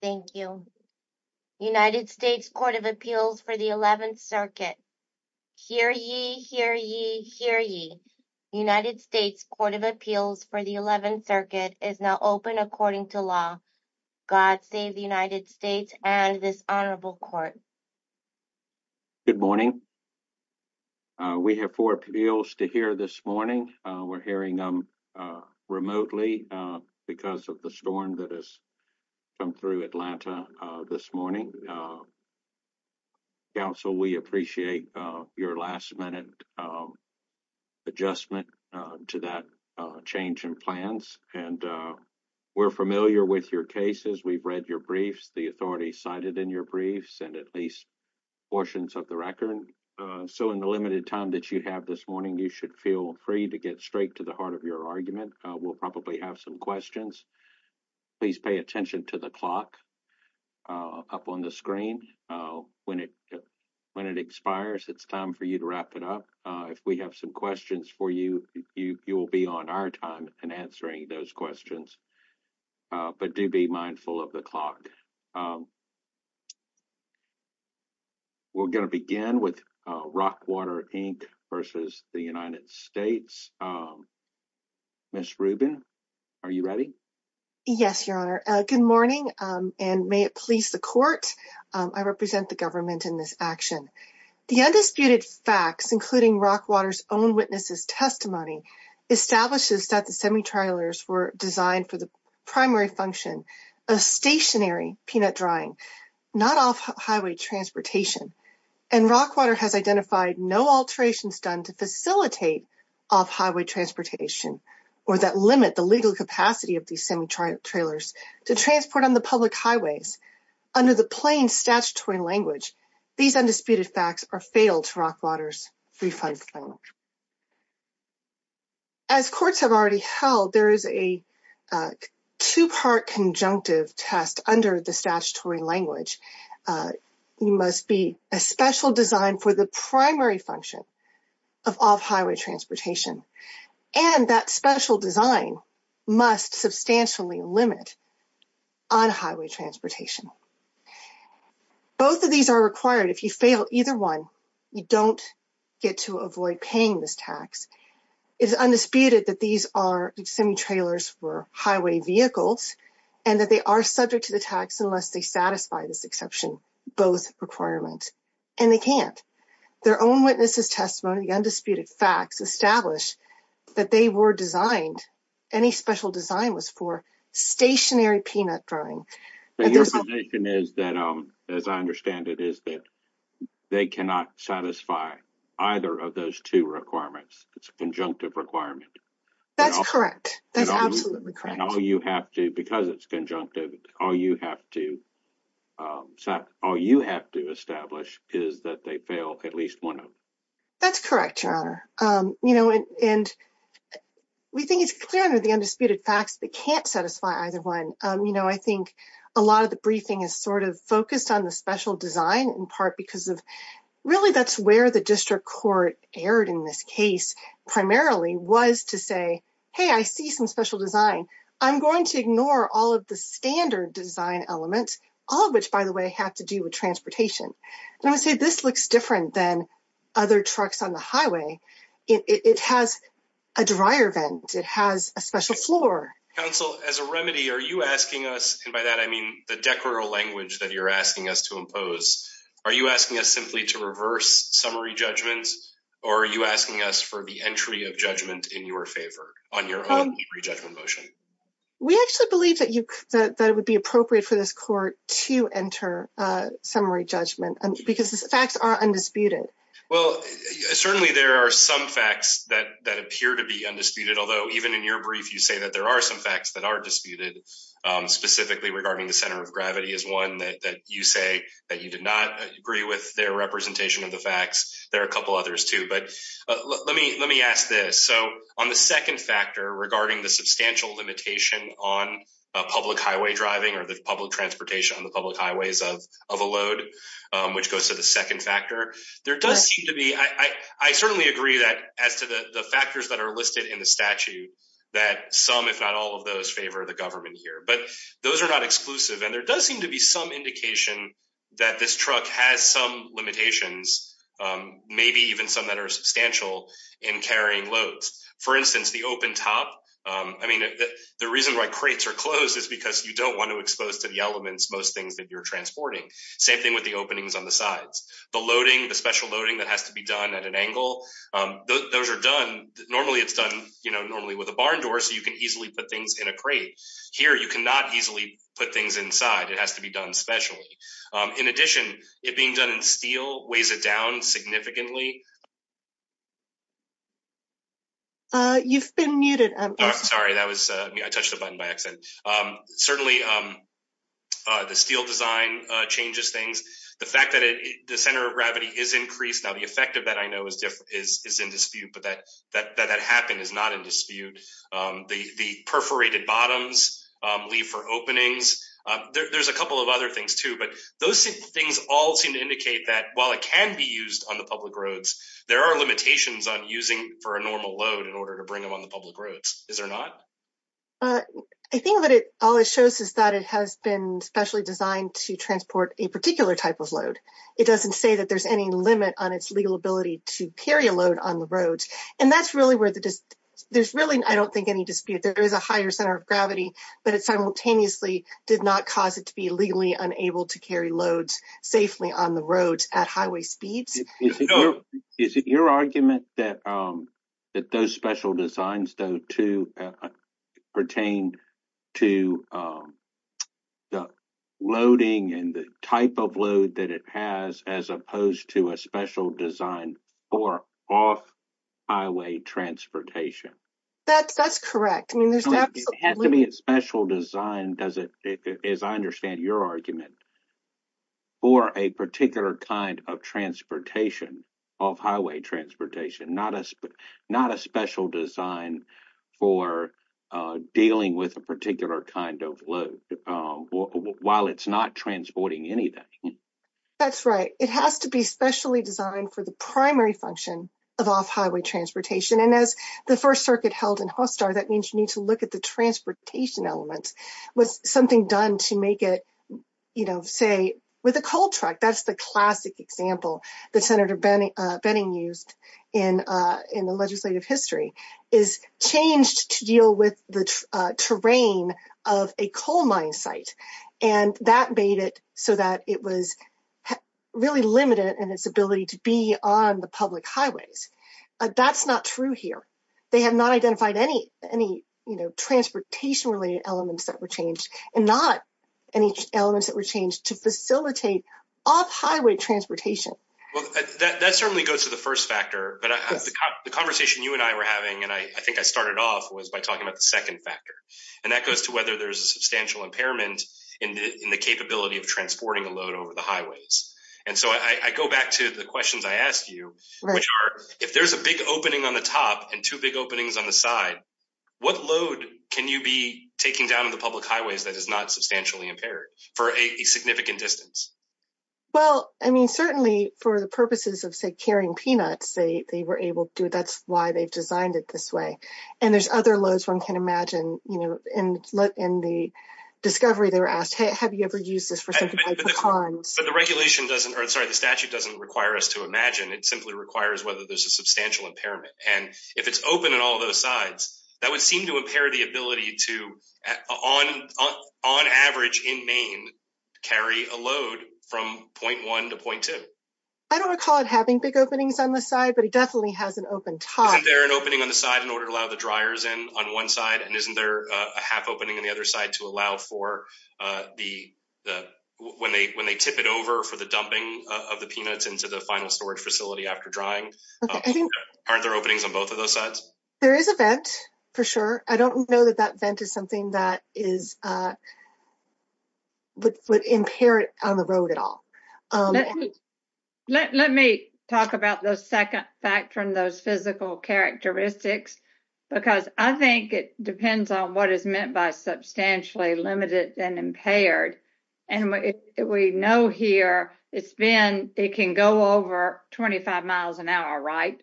Thank you. United States Court of Appeals for the 11th Circuit. Hear ye, hear ye, hear ye. United States Court of Appeals for the 11th Circuit is now open according to law. God save the United States and this honorable court. Good morning. We have four appeals to hear this morning. We're hearing them remotely because of the storm that has come through Atlanta this morning. Counsel, we appreciate your last minute adjustment to that change in plans and we're familiar with your cases. We've read your briefs, the authorities cited in your briefs, and at least portions of the record. So in the limited time that you have this morning, you should feel free to get straight to the heart of your argument. We'll probably have some questions. Please pay attention to the clock up on the screen. When it expires, it's time for you to wrap it up. If we have some questions for you, you will be on our time in answering those questions. But do be mindful of the clock. We're going to begin with Rockwater, Inc. versus the United States. Ms. Rubin, are you ready? Yes, your honor. Good morning and may it please the court. I represent the government in this action. The undisputed facts, including Rockwater's own testimony, establishes that the semi-trailers were designed for the primary function of stationary peanut drying, not off-highway transportation. Rockwater has identified no alterations done to facilitate off-highway transportation or that limit the legal capacity of these semi-trailers to transport on the public highways. Under the plain statutory language, these undisputed facts are fatal to Rockwater's refund plan. As courts have already held, there is a two-part conjunctive test under the statutory language. It must be a special design for the primary function of off-highway transportation, and that special design must substantially limit on-highway transportation. Both of these are required. If you fail either one, you don't get to avoid paying this tax. It is undisputed that these are semi-trailers for highway vehicles and that they are subject to the tax unless they satisfy this exception, both requirements, and they can't. Their own witnesses' testimony, the undisputed facts, establish that they were designed, any special design was for stationary peanut drying. The information is that, as I understand it, that they cannot satisfy either of those two requirements. It's a conjunctive requirement. That's correct. That's absolutely correct. And all you have to, because it's conjunctive, all you have to establish is that they fail at least one of them. That's correct, Your Honor. We think it's clear under the undisputed facts that they can't satisfy either one. I think a lot of the briefing is sort of focused on the special design in part because of, really, that's where the district court erred in this case primarily was to say, hey, I see some special design. I'm going to ignore all of the standard design elements, all of which, by the way, have to do with transportation. And I would say this looks different than other trucks on the highway. It has a dryer vent. It has a special floor. Counsel, as a remedy, are you asking us, and by that I mean the decoral language that you're asking us to impose, are you asking us simply to reverse summary judgments or are you asking us for the entry of judgment in your favor on your own re-judgment motion? We actually believe that it would be appropriate for this court to enter summary judgment because the facts are undisputed. Well, certainly there are some facts that appear to be undisputed, although even in your brief you that there are some facts that are disputed, specifically regarding the center of gravity is one that you say that you did not agree with their representation of the facts. There are a couple others too. But let me ask this. So on the second factor regarding the substantial limitation on public highway driving or the public transportation on the public highways of a load, which goes to the second factor, there does seem to be, I certainly agree that as to the factors that are listed in the statute that some, if not all of those, favor the government here. But those are not exclusive and there does seem to be some indication that this truck has some limitations, maybe even some that are substantial in carrying loads. For instance, the open top, I mean the reason why crates are closed is because you don't want to expose to the elements most things that you're transporting. Same thing with the openings on the sides. The loading, the special loading that has to be done at an angle, those are done, normally it's done, you know, normally with a barn door so you can easily put things in a crate. Here you cannot easily put things inside, it has to be done specially. In addition, it being done in steel weighs it down significantly. You've been muted. I'm sorry, that was, I touched the button by Certainly the steel design changes things. The fact that the center of gravity is increased, now the effect of that I know is in dispute, but that that happened is not in dispute. The perforated bottoms leave for openings. There's a couple of other things too, but those things all seem to indicate that while it can be used on the public roads, there are limitations on using for a normal load in order to bring them on the public roads. Is there not? I think what it always shows is that it has been specially designed to transport a particular type of load. It doesn't say that there's any limit on its legal ability to carry a load on the roads, and that's really where the, there's really, I don't think any dispute, there is a higher center of gravity, but it simultaneously did not cause it to be legally unable to carry loads safely on the roads at highway speeds. Is it your argument that those special designs though too pertain to the loading and the type of load that it has as opposed to a special design for off-highway transportation? That's correct. I mean, there's absolutely... It has to be a special design, does it, as I understand your argument, for a particular kind of transportation, off-highway transportation, not a special design for dealing with a particular kind of load while it's not transporting anything. That's right. It has to be specially designed for the primary function of off-highway transportation, and as the First Circuit held in Hostar, that means you need to say, with a coal truck, that's the classic example that Senator Benning used in the legislative history, is changed to deal with the terrain of a coal mine site, and that made it so that it was really limited in its ability to be on the public highways. That's not true here. They have not identified any transportation-related elements that were changed, and not any elements that were changed to facilitate off-highway transportation. Well, that certainly goes to the first factor, but the conversation you and I were having, and I think I started off, was by talking about the second factor, and that goes to whether there's a substantial impairment in the capability of transporting a load over the highways, and so I go back to the questions I asked you, which are, if there's a big opening on the top and two big openings on the side, what load can you be taking down on the public highways that is not substantially impaired for a significant distance? Well, I mean, certainly for the purposes of, say, carrying peanuts, they were able to. That's why they've designed it this way, and there's other loads one can imagine. In the discovery, they were asked, have you ever used this for something like pecans? But the regulation doesn't, or sorry, the statute doesn't require us to imagine. It simply requires whether there's a substantial impairment, and if it's open on all those sides, that would seem to impair the ability to, on average in Maine, carry a load from point one to point two. I don't recall it having big openings on the side, but it definitely has an open top. Isn't there an opening on the side in order to allow the dryers in on one side, and isn't there a half opening on the other side to allow for the, when they tip it over for the dumping of the peanuts into the final storage facility after drying? Aren't there openings on both of those sides? There is a vent, for sure. I don't know that that vent is something that is, would impair it on the road at all. Let me talk about the second factor in those physical characteristics, because I think it depends on what is meant by substantially limited and impaired, and we know here it's been, it can go over 25 miles an hour, right?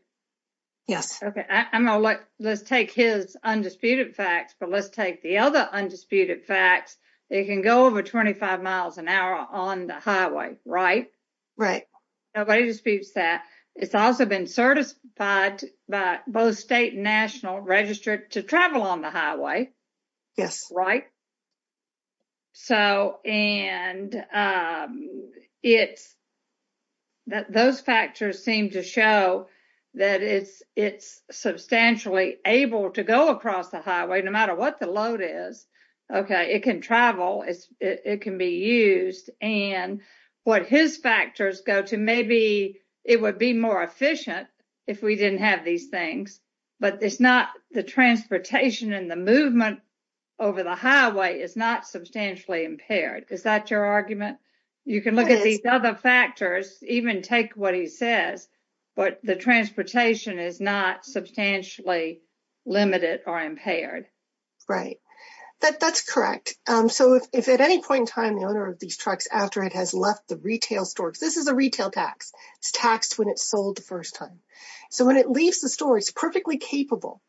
Yes. Okay, I'm going to let, let's take his undisputed facts, but let's take the other undisputed facts. It can go over 25 miles an hour on the highway, right? Right. Nobody disputes that. It's also been certified by both state and national registered to travel on the highway. Yes. Right? So, and it's, those factors seem to show that it's substantially able to go across the highway, no matter what the load is. Okay, it can travel, it can be used, and what his factors go to, maybe it would be more efficient if we didn't have these things, but it's not the transportation and the movement over the highway is not substantially impaired. Is that your argument? You can look at these other factors, even take what he says, but the transportation is not substantially limited or impaired. Right, that's correct. So, if at any point in time, the owner of these trucks, after it has left the retail store, this is a retail tax, it's taxed when it's sold the first time. So, when it leaves the store, it's perfectly capable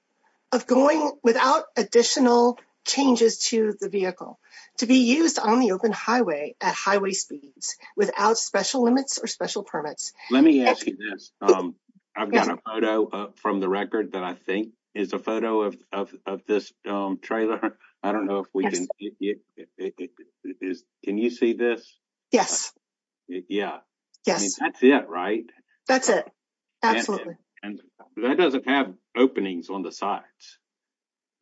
of going without additional changes to the vehicle to be used on the open highway at highway speeds without special limits or special permits. Let me ask you this. I've got a photo from the record that I think is a photo of this trailer. I don't know if we can, can you see this? Yes. Yeah. Yes. That's it, right? That's it, absolutely. And that doesn't have openings on the sides.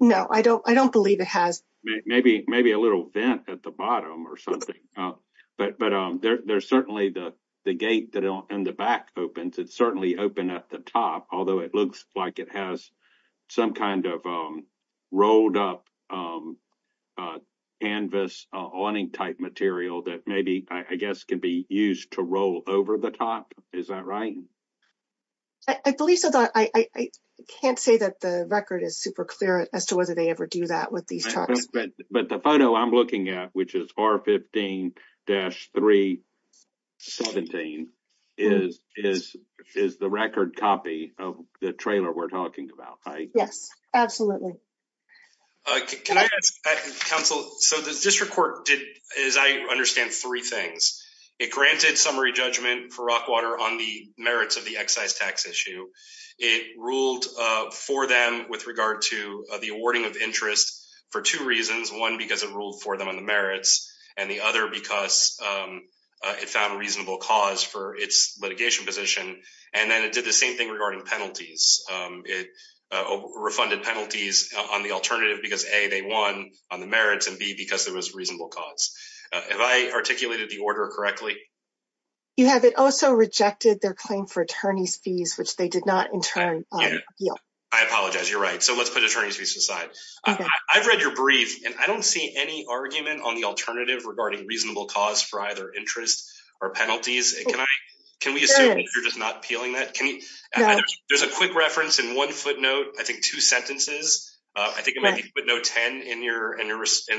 No, I don't believe it has. Maybe a little vent at the bottom or something, but there's certainly the gate that in the back opens. It's certainly open at the top, although it looks like it has some kind of rolled up canvas awning type material that maybe, I guess, can be used to roll over the top. Is that right? I believe so. I can't say that the record is super clear as to whether they ever do that with these trucks. But the photo I'm looking at, which is R15-317, is the record copy of the trailer we're talking about, right? Yes, absolutely. Can I ask, counsel, so the district court did, as I understand, three things. It granted summary judgment for Rockwater on the merits of the excise tax issue. It ruled for them with regard to the awarding of interest for two reasons. One, because it ruled for them on the merits, and the other because it found a reasonable cause for its litigation position. And then it did the same thing regarding penalties. It refunded penalties on the alternative because, A, they won on the merits, and B, because there was reasonable cause. Have I articulated the order correctly? You have. It also rejected their claim for attorney's fees, which they did not in turn appeal. I apologize. You're right. So let's put attorney's fees aside. I've read your brief, and I don't see any argument on the alternative regarding reasonable cause for either interest or penalties. Can we assume that you're just not appealing that? There's a quick reference in one footnote, I think two sentences. I think it might be footnote 10 in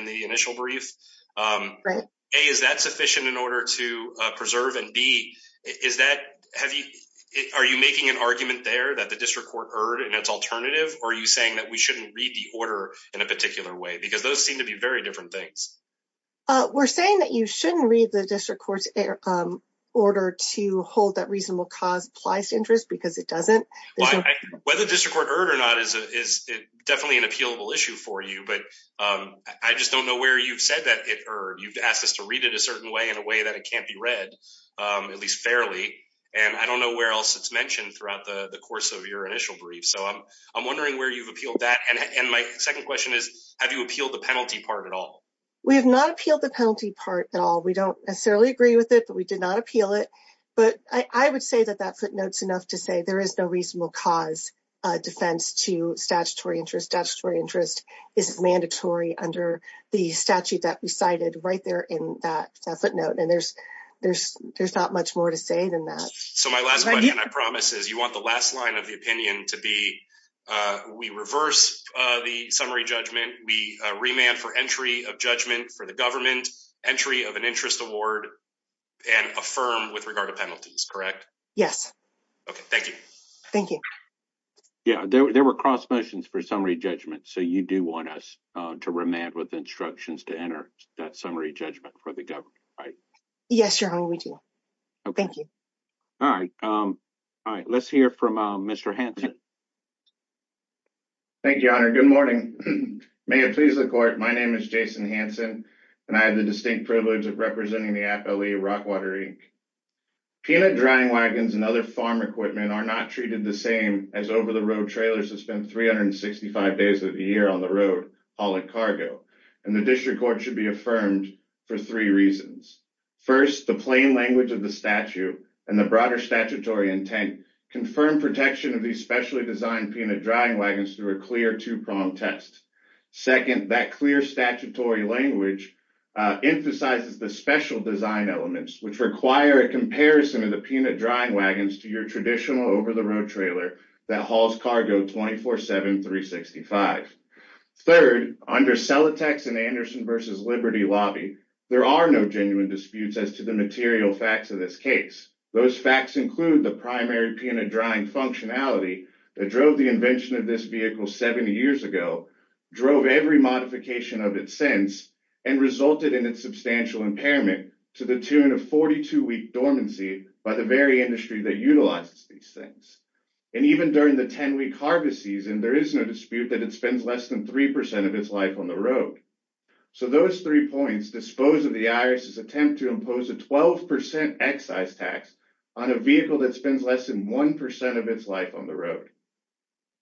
the initial brief. A, is that sufficient in order to preserve? And B, are you making an argument there that the district court erred in its alternative, or are you saying that we shouldn't read the order in a particular way? Because those seem to be very different things. We're saying that you shouldn't read the district court's order to hold that reasonable cause applies to interest because it doesn't. Whether the district court erred or not is definitely an appealable issue for you, but I just don't know where you've said that it erred. You've asked us to read it a certain way in a way that it can't be read, at least fairly, and I don't know where else it's mentioned throughout the course of your initial brief. So I'm wondering where you've appealed that, and my second question is, have you appealed the penalty part at all? We have not appealed the penalty part at all. We don't necessarily agree with it, but we did not appeal it, but I would say that that footnote's enough to say there is no reasonable cause defense to statutory interest. Statutory interest is mandatory under the statute that we cited right there in that footnote, and there's not much more to say than that. So my last question, I promise, is you want the last line of the opinion to be, we reverse the summary judgment, we remand for entry of judgment for the government, entry of an interest award, and affirm with regard to penalties, correct? Yes. Okay, thank you. Thank you. Yeah, there were cross motions for summary judgment, so you do want us to remand with instructions to enter that summary judgment for the government, right? Yes, Your Honor, we do. Thank you. All right, let's hear from Mr. Hanson. Thank you, Your Honor. Good morning. May it please the court, my name is Jason Hanson, and I have the distinct privilege of representing the Appellee of Rockwater, Inc. Peanut drying wagons and other farm equipment are not treated the same as over-the-road trailers that spend 365 days of the year on the road hauling cargo, and the district court should be affirmed for three reasons. First, the plain language of the statute and the broader statutory intent confirm protection of these specially designed peanut drying wagons through a clear two-prong test. Second, that clear statutory language emphasizes the special design elements which require a comparison of the peanut drying wagons to your traditional over-the-road trailer that hauls cargo 24-7, 365. Third, under Celotex and Anderson v. Liberty Lobby, there are no genuine disputes as to the material facts of those facts include the primary peanut drying functionality that drove the invention of this vehicle 70 years ago, drove every modification of its sense, and resulted in its substantial impairment to the tune of 42-week dormancy by the very industry that utilizes these things. And even during the 10-week harvest season, there is no dispute that it spends less than three percent of its life on the road. So those three points dispose of the IRS's attempt to impose a 12% excise tax on a vehicle that spends less than one percent of its life on the road.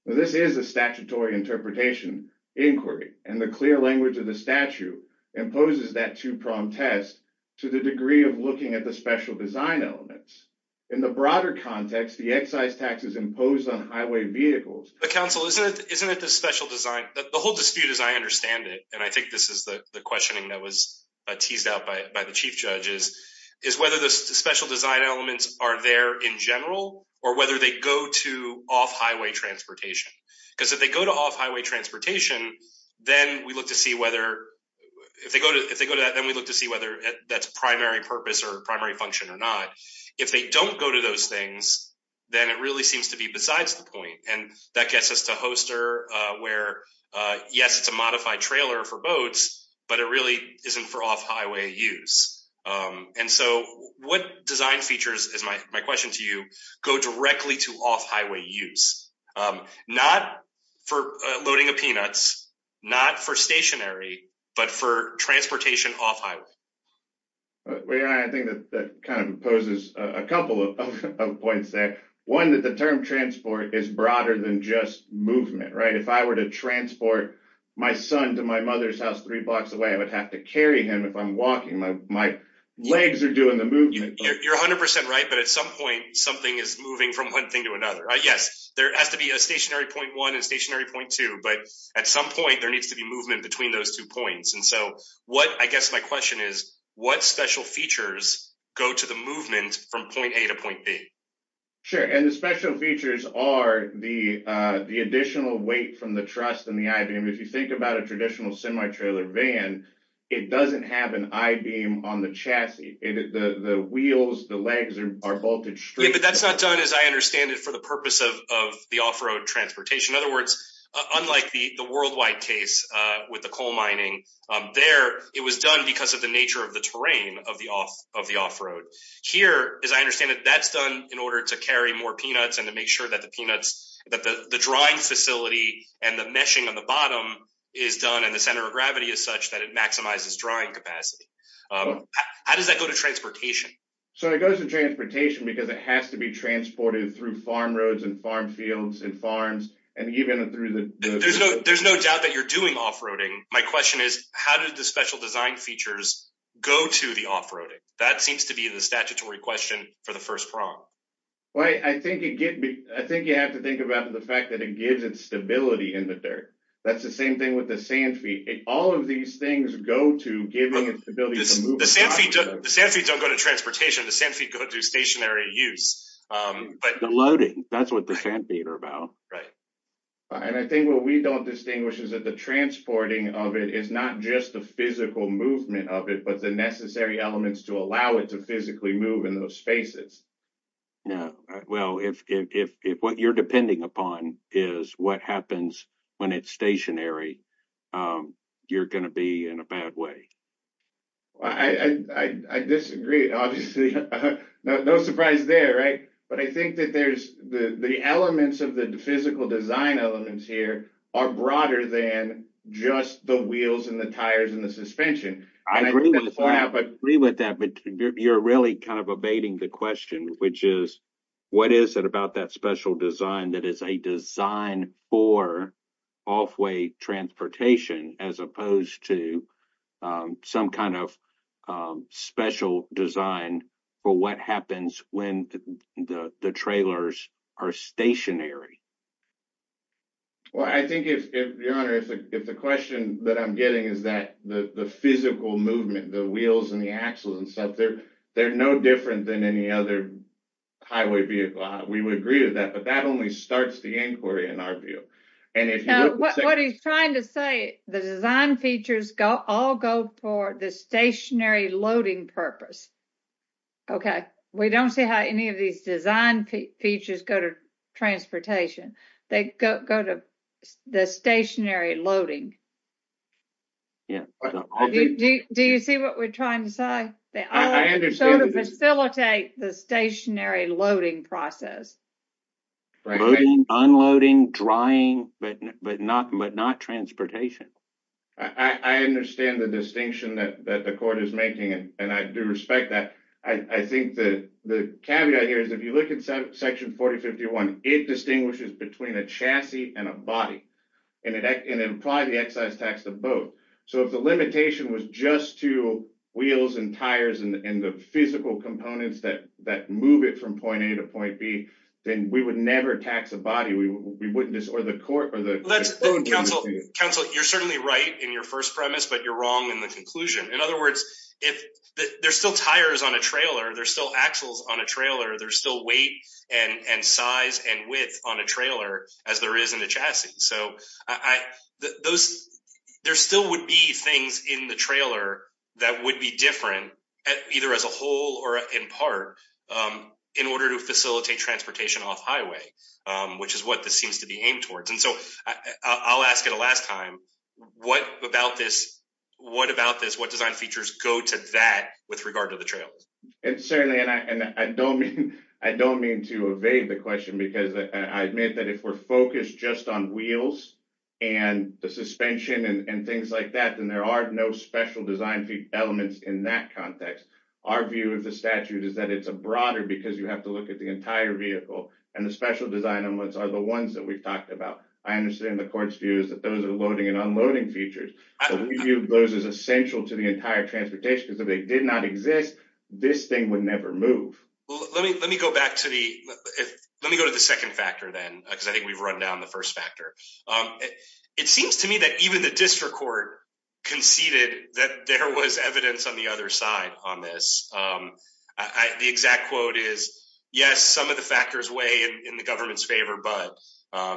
This is a statutory interpretation inquiry, and the clear language of the statute imposes that two-prong test to the degree of looking at the special design elements. In the broader context, the excise tax is imposed on highway vehicles. But counsel, isn't it the special design? The whole dispute is I understand it, and I think this is the questioning that was teased out by the chief judges, is whether the special design elements are there in general or whether they go to off-highway transportation. Because if they go to off-highway transportation, then we look to see whether, if they go to that, then we look to see whether that's primary purpose or primary function or not. If they don't go to those things, then it really seems to be besides the point. And that gets us to Hoster, where yes, it's a modified trailer for boats, but it really isn't for off-highway use. And so what design features, is my question to you, go directly to off-highway use? Not for loading of peanuts, not for stationary, but for transportation off-highway. I think that kind of imposes a couple of points there. One, that the term transport is broader than just movement, right? If I were to transport my son to my mother's house three blocks away, I would have to carry him if I'm walking, my legs are doing the movement. You're 100% right, but at some point, something is moving from one thing to another. Yes, there has to be a stationary point one and stationary point two, but at some point, there needs to be movement between those two points. And so what, I guess my question is, what special features go to the movement from point A to point B? Sure, and the special features are the additional weight from the truss and the I-beam. If you think about a traditional semi-trailer van, it doesn't have an I-beam on the chassis. The wheels, the legs are bolted straight. But that's not done, as I understand it, for the purpose of the off-road transportation. In other words, unlike the worldwide case with the coal mining there, it was done because of the nature of the terrain of the off-road. Here, as I understand it, that's done in order to carry more peanuts and to make sure that the drying facility and the meshing on the bottom is done and the center of gravity is such that it maximizes drying capacity. How does that go to transportation? So it goes to transportation because it has to be transported through farm roads and farm fields and farms. There's no doubt that you're doing off-roading. My question is, how did the special design features go to the off-roading? That seems to be the statutory question for the first prong. Well, I think you have to think about the fact that it gives it stability in the dirt. That's the same thing with the sand feet. All of these things go to giving it the ability to move. The sand feet don't go to transportation. The sand feet go to stationary use. The loading, that's what the sand feet are about. Right. I think what we don't distinguish is that the transporting of it is not just the physical movement of it, but the necessary elements to allow it to physically move in those spaces. Well, if what you're depending upon is what happens when it's stationary, you're going to be in a bad way. I disagree, obviously. No surprise there, right? But I think that the elements of the physical design elements here are broader than just the wheels and the tires and the suspension. I agree with that, but you're really kind of evading the question, which is, what is it about that special design that is a design for off-way transportation as opposed to some kind of special design for what happens when the trailers are stationary? Well, I think, Your Honor, if the question that I'm getting is that the physical movement, the wheels and the axles and stuff, they're no different than any other highway vehicle. We would agree with that, but that only starts the inquiry in our view. What he's trying to say, the design features all go for the stationary loading purpose. Okay, we don't see how any of these design features go to transportation. They go to the stationary loading. Do you see what we're trying to say? They all sort of facilitate the stationary loading process. Loading, unloading, drying, but not transportation. I understand the distinction that the court is making, and I do respect that. I think the caveat here is, if you look at Section 4051, it distinguishes between a chassis and a body, and it implied the excise tax to both. So, if the limitation was just to wheels and tires and the physical components that move it from point A to point B, then we would never tax the body. We wouldn't In other words, if there's still tires on a trailer, there's still axles on a trailer, there's still weight and size and width on a trailer as there is in the chassis. So, there still would be things in the trailer that would be different, either as a whole or in part, in order to facilitate transportation off-highway, which is what this seems to be aimed towards. I'll ask it a last time. What design features go to that with regard to the trails? I don't mean to evade the question because I admit that if we're focused just on wheels and the suspension and things like that, then there are no special design elements in that context. Our view of the statute is that it's a broader because you have to look at the entire vehicle and the special design elements are the ones that we've talked about. I understand the court's view is that those are loading and unloading features. We view those as essential to the entire transportation because if they did not exist, this thing would never move. Let me go to the second factor then because I think we've run down the first factor. It seems to me that even the district court conceded that there was evidence on the other in the government's favor, but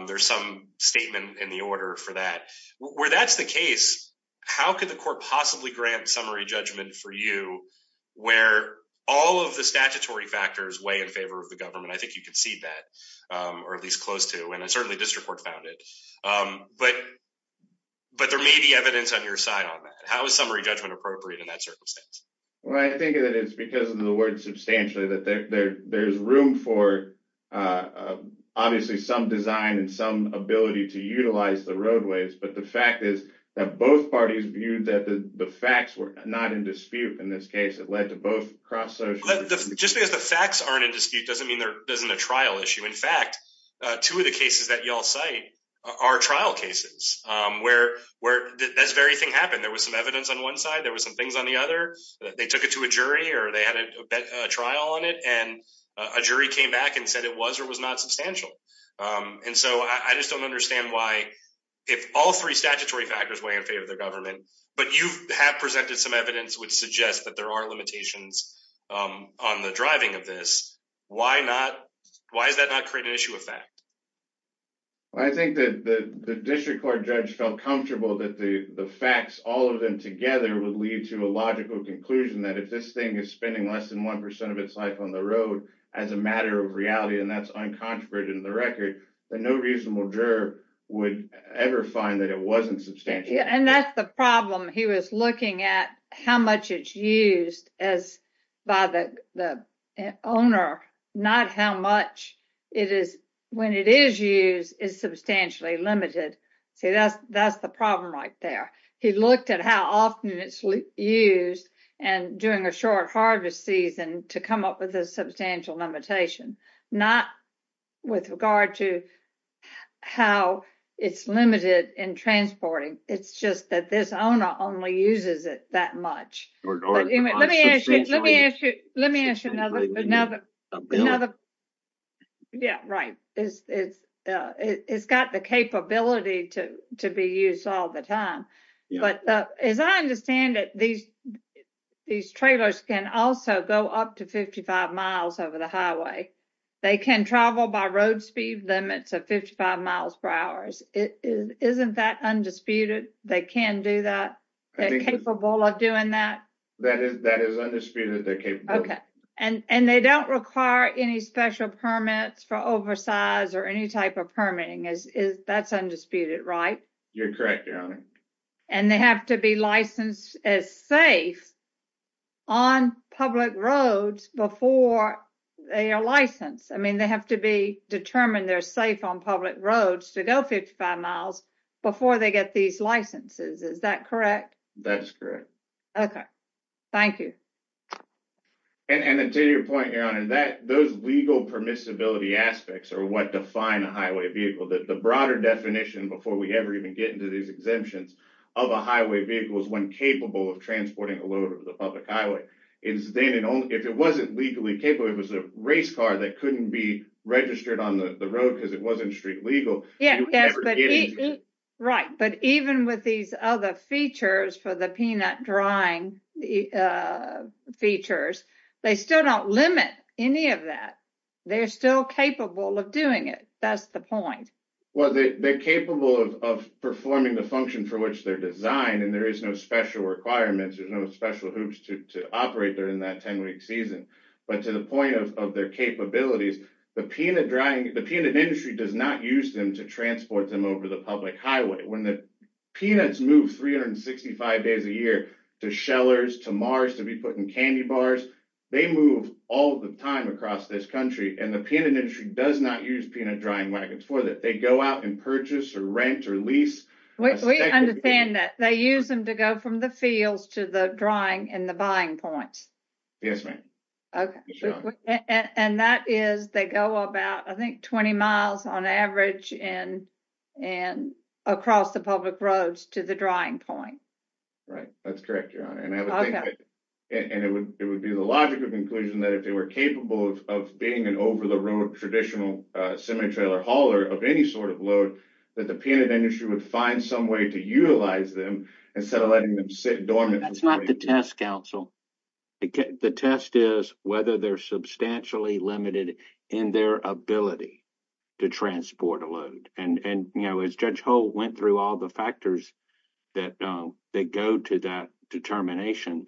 there's some statement in the order for that. Where that's the case, how could the court possibly grant summary judgment for you where all of the statutory factors weigh in favor of the government? I think you conceded that or at least close to and certainly district court found it. There may be evidence on your side on that. How is summary judgment appropriate in that circumstance? I think that it's because of the word substantially that there's room for obviously some design and some ability to utilize the roadways, but the fact is that both parties viewed that the facts were not in dispute in this case. It led to both cross social. Just because the facts aren't in dispute doesn't mean there isn't a trial issue. In fact, two of the cases that y'all cite are trial cases where this very thing happened. There was some evidence on one side. There were some things on the other. They took it to a jury or they had a trial on it and a jury came back and said it was or was not substantial. I just don't understand why if all three statutory factors weigh in favor of the government, but you have presented some evidence which suggests that there are limitations on the driving of this. Why is that not create an issue of fact? I think that the district court felt comfortable that the facts, all of them together, would lead to a logical conclusion that if this thing is spending less than 1% of its life on the road as a matter of reality, and that's uncontroverted in the record, that no reasonable juror would ever find that it wasn't substantial. That's the problem. He was looking at how much it's used by the owner, not how much it is when it is used is substantially limited. See, that's that's the problem right there. He looked at how often it's used and during a short harvest season to come up with a substantial limitation, not with regard to how it's limited in transporting. It's just that this owner only uses it that much. Let me ask you another. Yeah, right. It's got the capability to be used all the time. But as I understand it, these trailers can also go up to 55 miles over the highway. They can travel by road speed limits of 55 miles per hour. Isn't that undisputed? They can do that. They're capable of doing that. That is that is undisputed. They're capable. Okay. And and they don't require any special permits for oversize or any type of permitting is is that's undisputed, right? You're correct, Your Honor. And they have to be licensed as safe on public roads before they are licensed. I mean, they have to be determined they're safe on public roads to go 55 miles before they get these licenses. Is that correct? That's correct. Okay, thank you. And to your point, Your Honor, that those legal permissibility aspects are what define a highway vehicle that the broader definition before we ever even get into these exemptions of a highway vehicle is when capable of transporting a load over the public highway is then if it wasn't legally capable, it was a race car that couldn't be registered on the road because it wasn't street legal. Yeah, right. But even with these other features for the peanut drying features, they still don't limit any of that. They're still capable of doing it. That's the point. Well, they're capable of performing the function for which they're designed and there is no special requirements. There's no special hoops to operate during that 10-week season. But to the point of their capabilities, the peanut drying, the peanut industry does not use them to transport them over the public highway. When the peanuts move 365 days a year to shellers, to mars, to be put in candy bars, they move all the time across this country and the peanut industry does not use peanut drying wagons for that. They go out and purchase or rent or lease. We understand that they use them to go from the fields to the drying and the buying points. Yes, ma'am. Okay. And that is they go about I think 20 miles on average and across the public roads to the drying point. Right. That's correct, Your Honor. And it would be the logical conclusion that if they were capable of being an over-the-road traditional semi-trailer hauler of any sort of that the peanut industry would find some way to utilize them instead of letting them sit dormant. That's not the test, counsel. The test is whether they're substantially limited in their ability to transport a load. And, you know, as Judge Holt went through all the factors that go to that determination,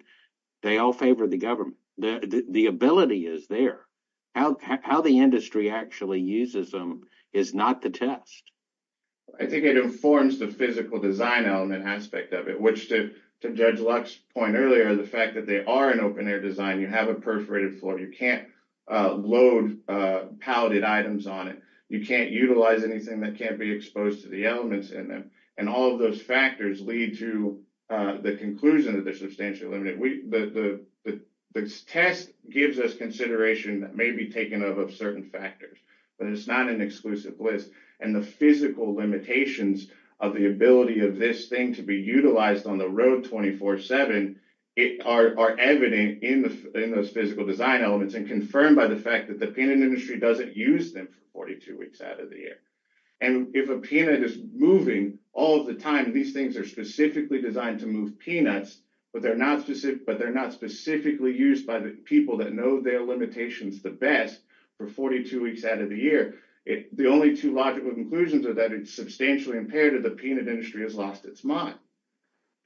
they all favor the government. The ability is there. How the industry actually uses them is not the test. I think it informs the physical design element aspect of it, which to Judge Luck's point earlier, the fact that they are an open-air design, you have a perforated floor. You can't load palleted items on it. You can't utilize anything that can't be exposed to the elements in them. And all of those factors lead to the conclusion that they're substantially limited. The test gives us consideration that may be taken up of certain factors, but it's not an exclusive list. And the physical limitations of the ability of this thing to be utilized on the road 24-7 are evident in those physical design elements and confirmed by the fact that the peanut industry doesn't use them for 42 weeks out of the year. And if a peanut is moving all of the time, these things are specifically designed to move peanuts, but they're not specifically used by the people that know their limitations the best for 42 weeks out of the year. The only two logical conclusions are that it's substantially impaired or the peanut industry has lost its mind.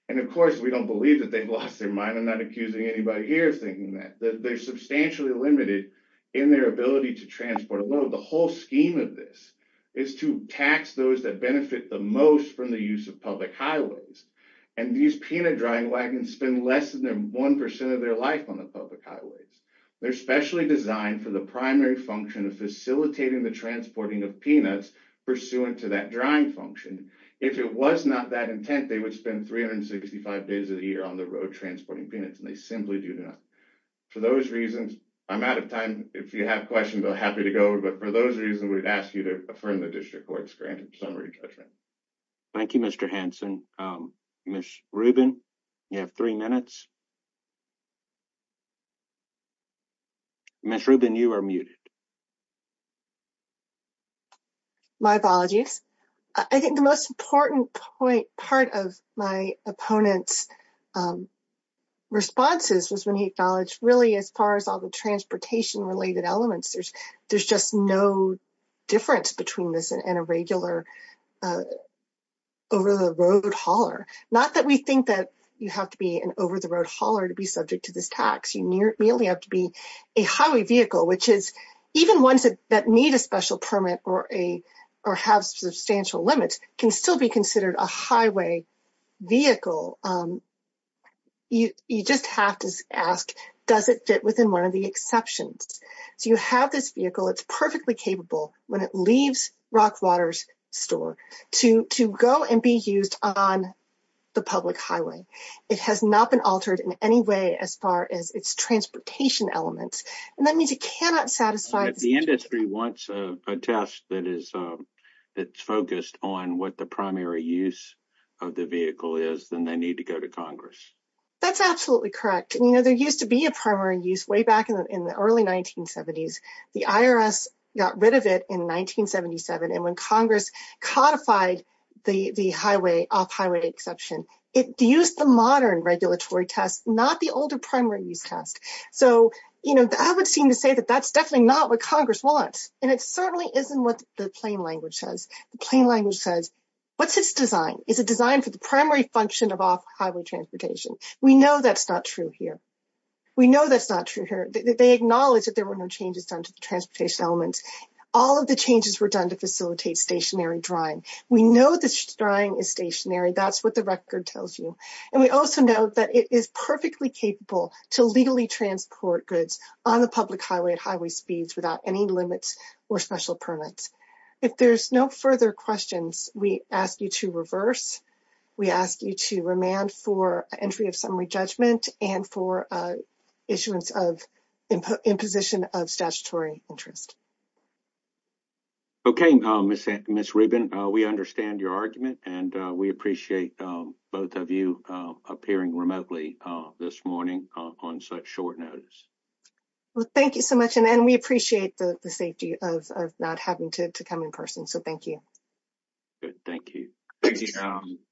And of course, we don't believe that they've lost their mind. I'm not accusing anybody here of thinking that. They're substantially limited in their ability to transport alone. The whole scheme of this is to tax those that benefit the most from the use of public highways. And these peanut drying wagons spend less than 1% of their life on the public highways. They're specially designed for the primary function of facilitating the transporting of peanuts pursuant to that drying function. If it was not that intent, they would spend 365 days of the year on the road transporting peanuts, and they simply do not. For those reasons, I'm out of If you have questions, I'm happy to go. But for those reasons, we'd ask you to affirm the district court's granted summary judgment. Thank you, Mr. Hanson. Ms. Rubin, you have three minutes. Ms. Rubin, you are muted. My apologies. I think the most important part of my opponent's responses was when he acknowledged as far as all the transportation-related elements, there's just no difference between this and a regular over-the-road hauler. Not that we think that you have to be an over-the-road hauler to be subject to this tax. You merely have to be a highway vehicle, which is even ones that need a special permit or have substantial limits can still be considered a highway vehicle. You just have to ask, does it fit within one of the exceptions? So you have this vehicle, it's perfectly capable when it leaves Rockwater's store to go and be used on the public highway. It has not been altered in any way as far as its transportation elements, and that means it cannot satisfy the industry wants a test that is focused on what the primary use of the vehicle is, and they need to go to Congress. That's absolutely correct. You know, there used to be a primary use way back in the early 1970s. The IRS got rid of it in 1977, and when Congress codified the off-highway exception, it used the modern regulatory test, not the older primary use test. So I would seem to say that that's definitely not what Congress wants, and it certainly isn't what the plain language says. The plain language says, what's its design? Is it designed for the primary function of off-highway transportation? We know that's not true here. We know that's not true here. They acknowledge that there were no changes done to the transportation elements. All of the changes were done to facilitate stationary drying. We know that drying is stationary. That's what the record tells you, and we also know that it is perfectly capable to legally transport goods on the public highway at highway speeds without any limits or special permits. If there's no further questions, we ask you to reverse. We ask you to remand for entry of summary judgment and for issuance of imposition of statutory interest. Okay, Ms. Rubin, we understand your argument, and we appreciate both of you appearing remotely this morning on such short notice. Well, thank you so much, and we appreciate the safety of not having to come in person, so thank you. Good, thank you.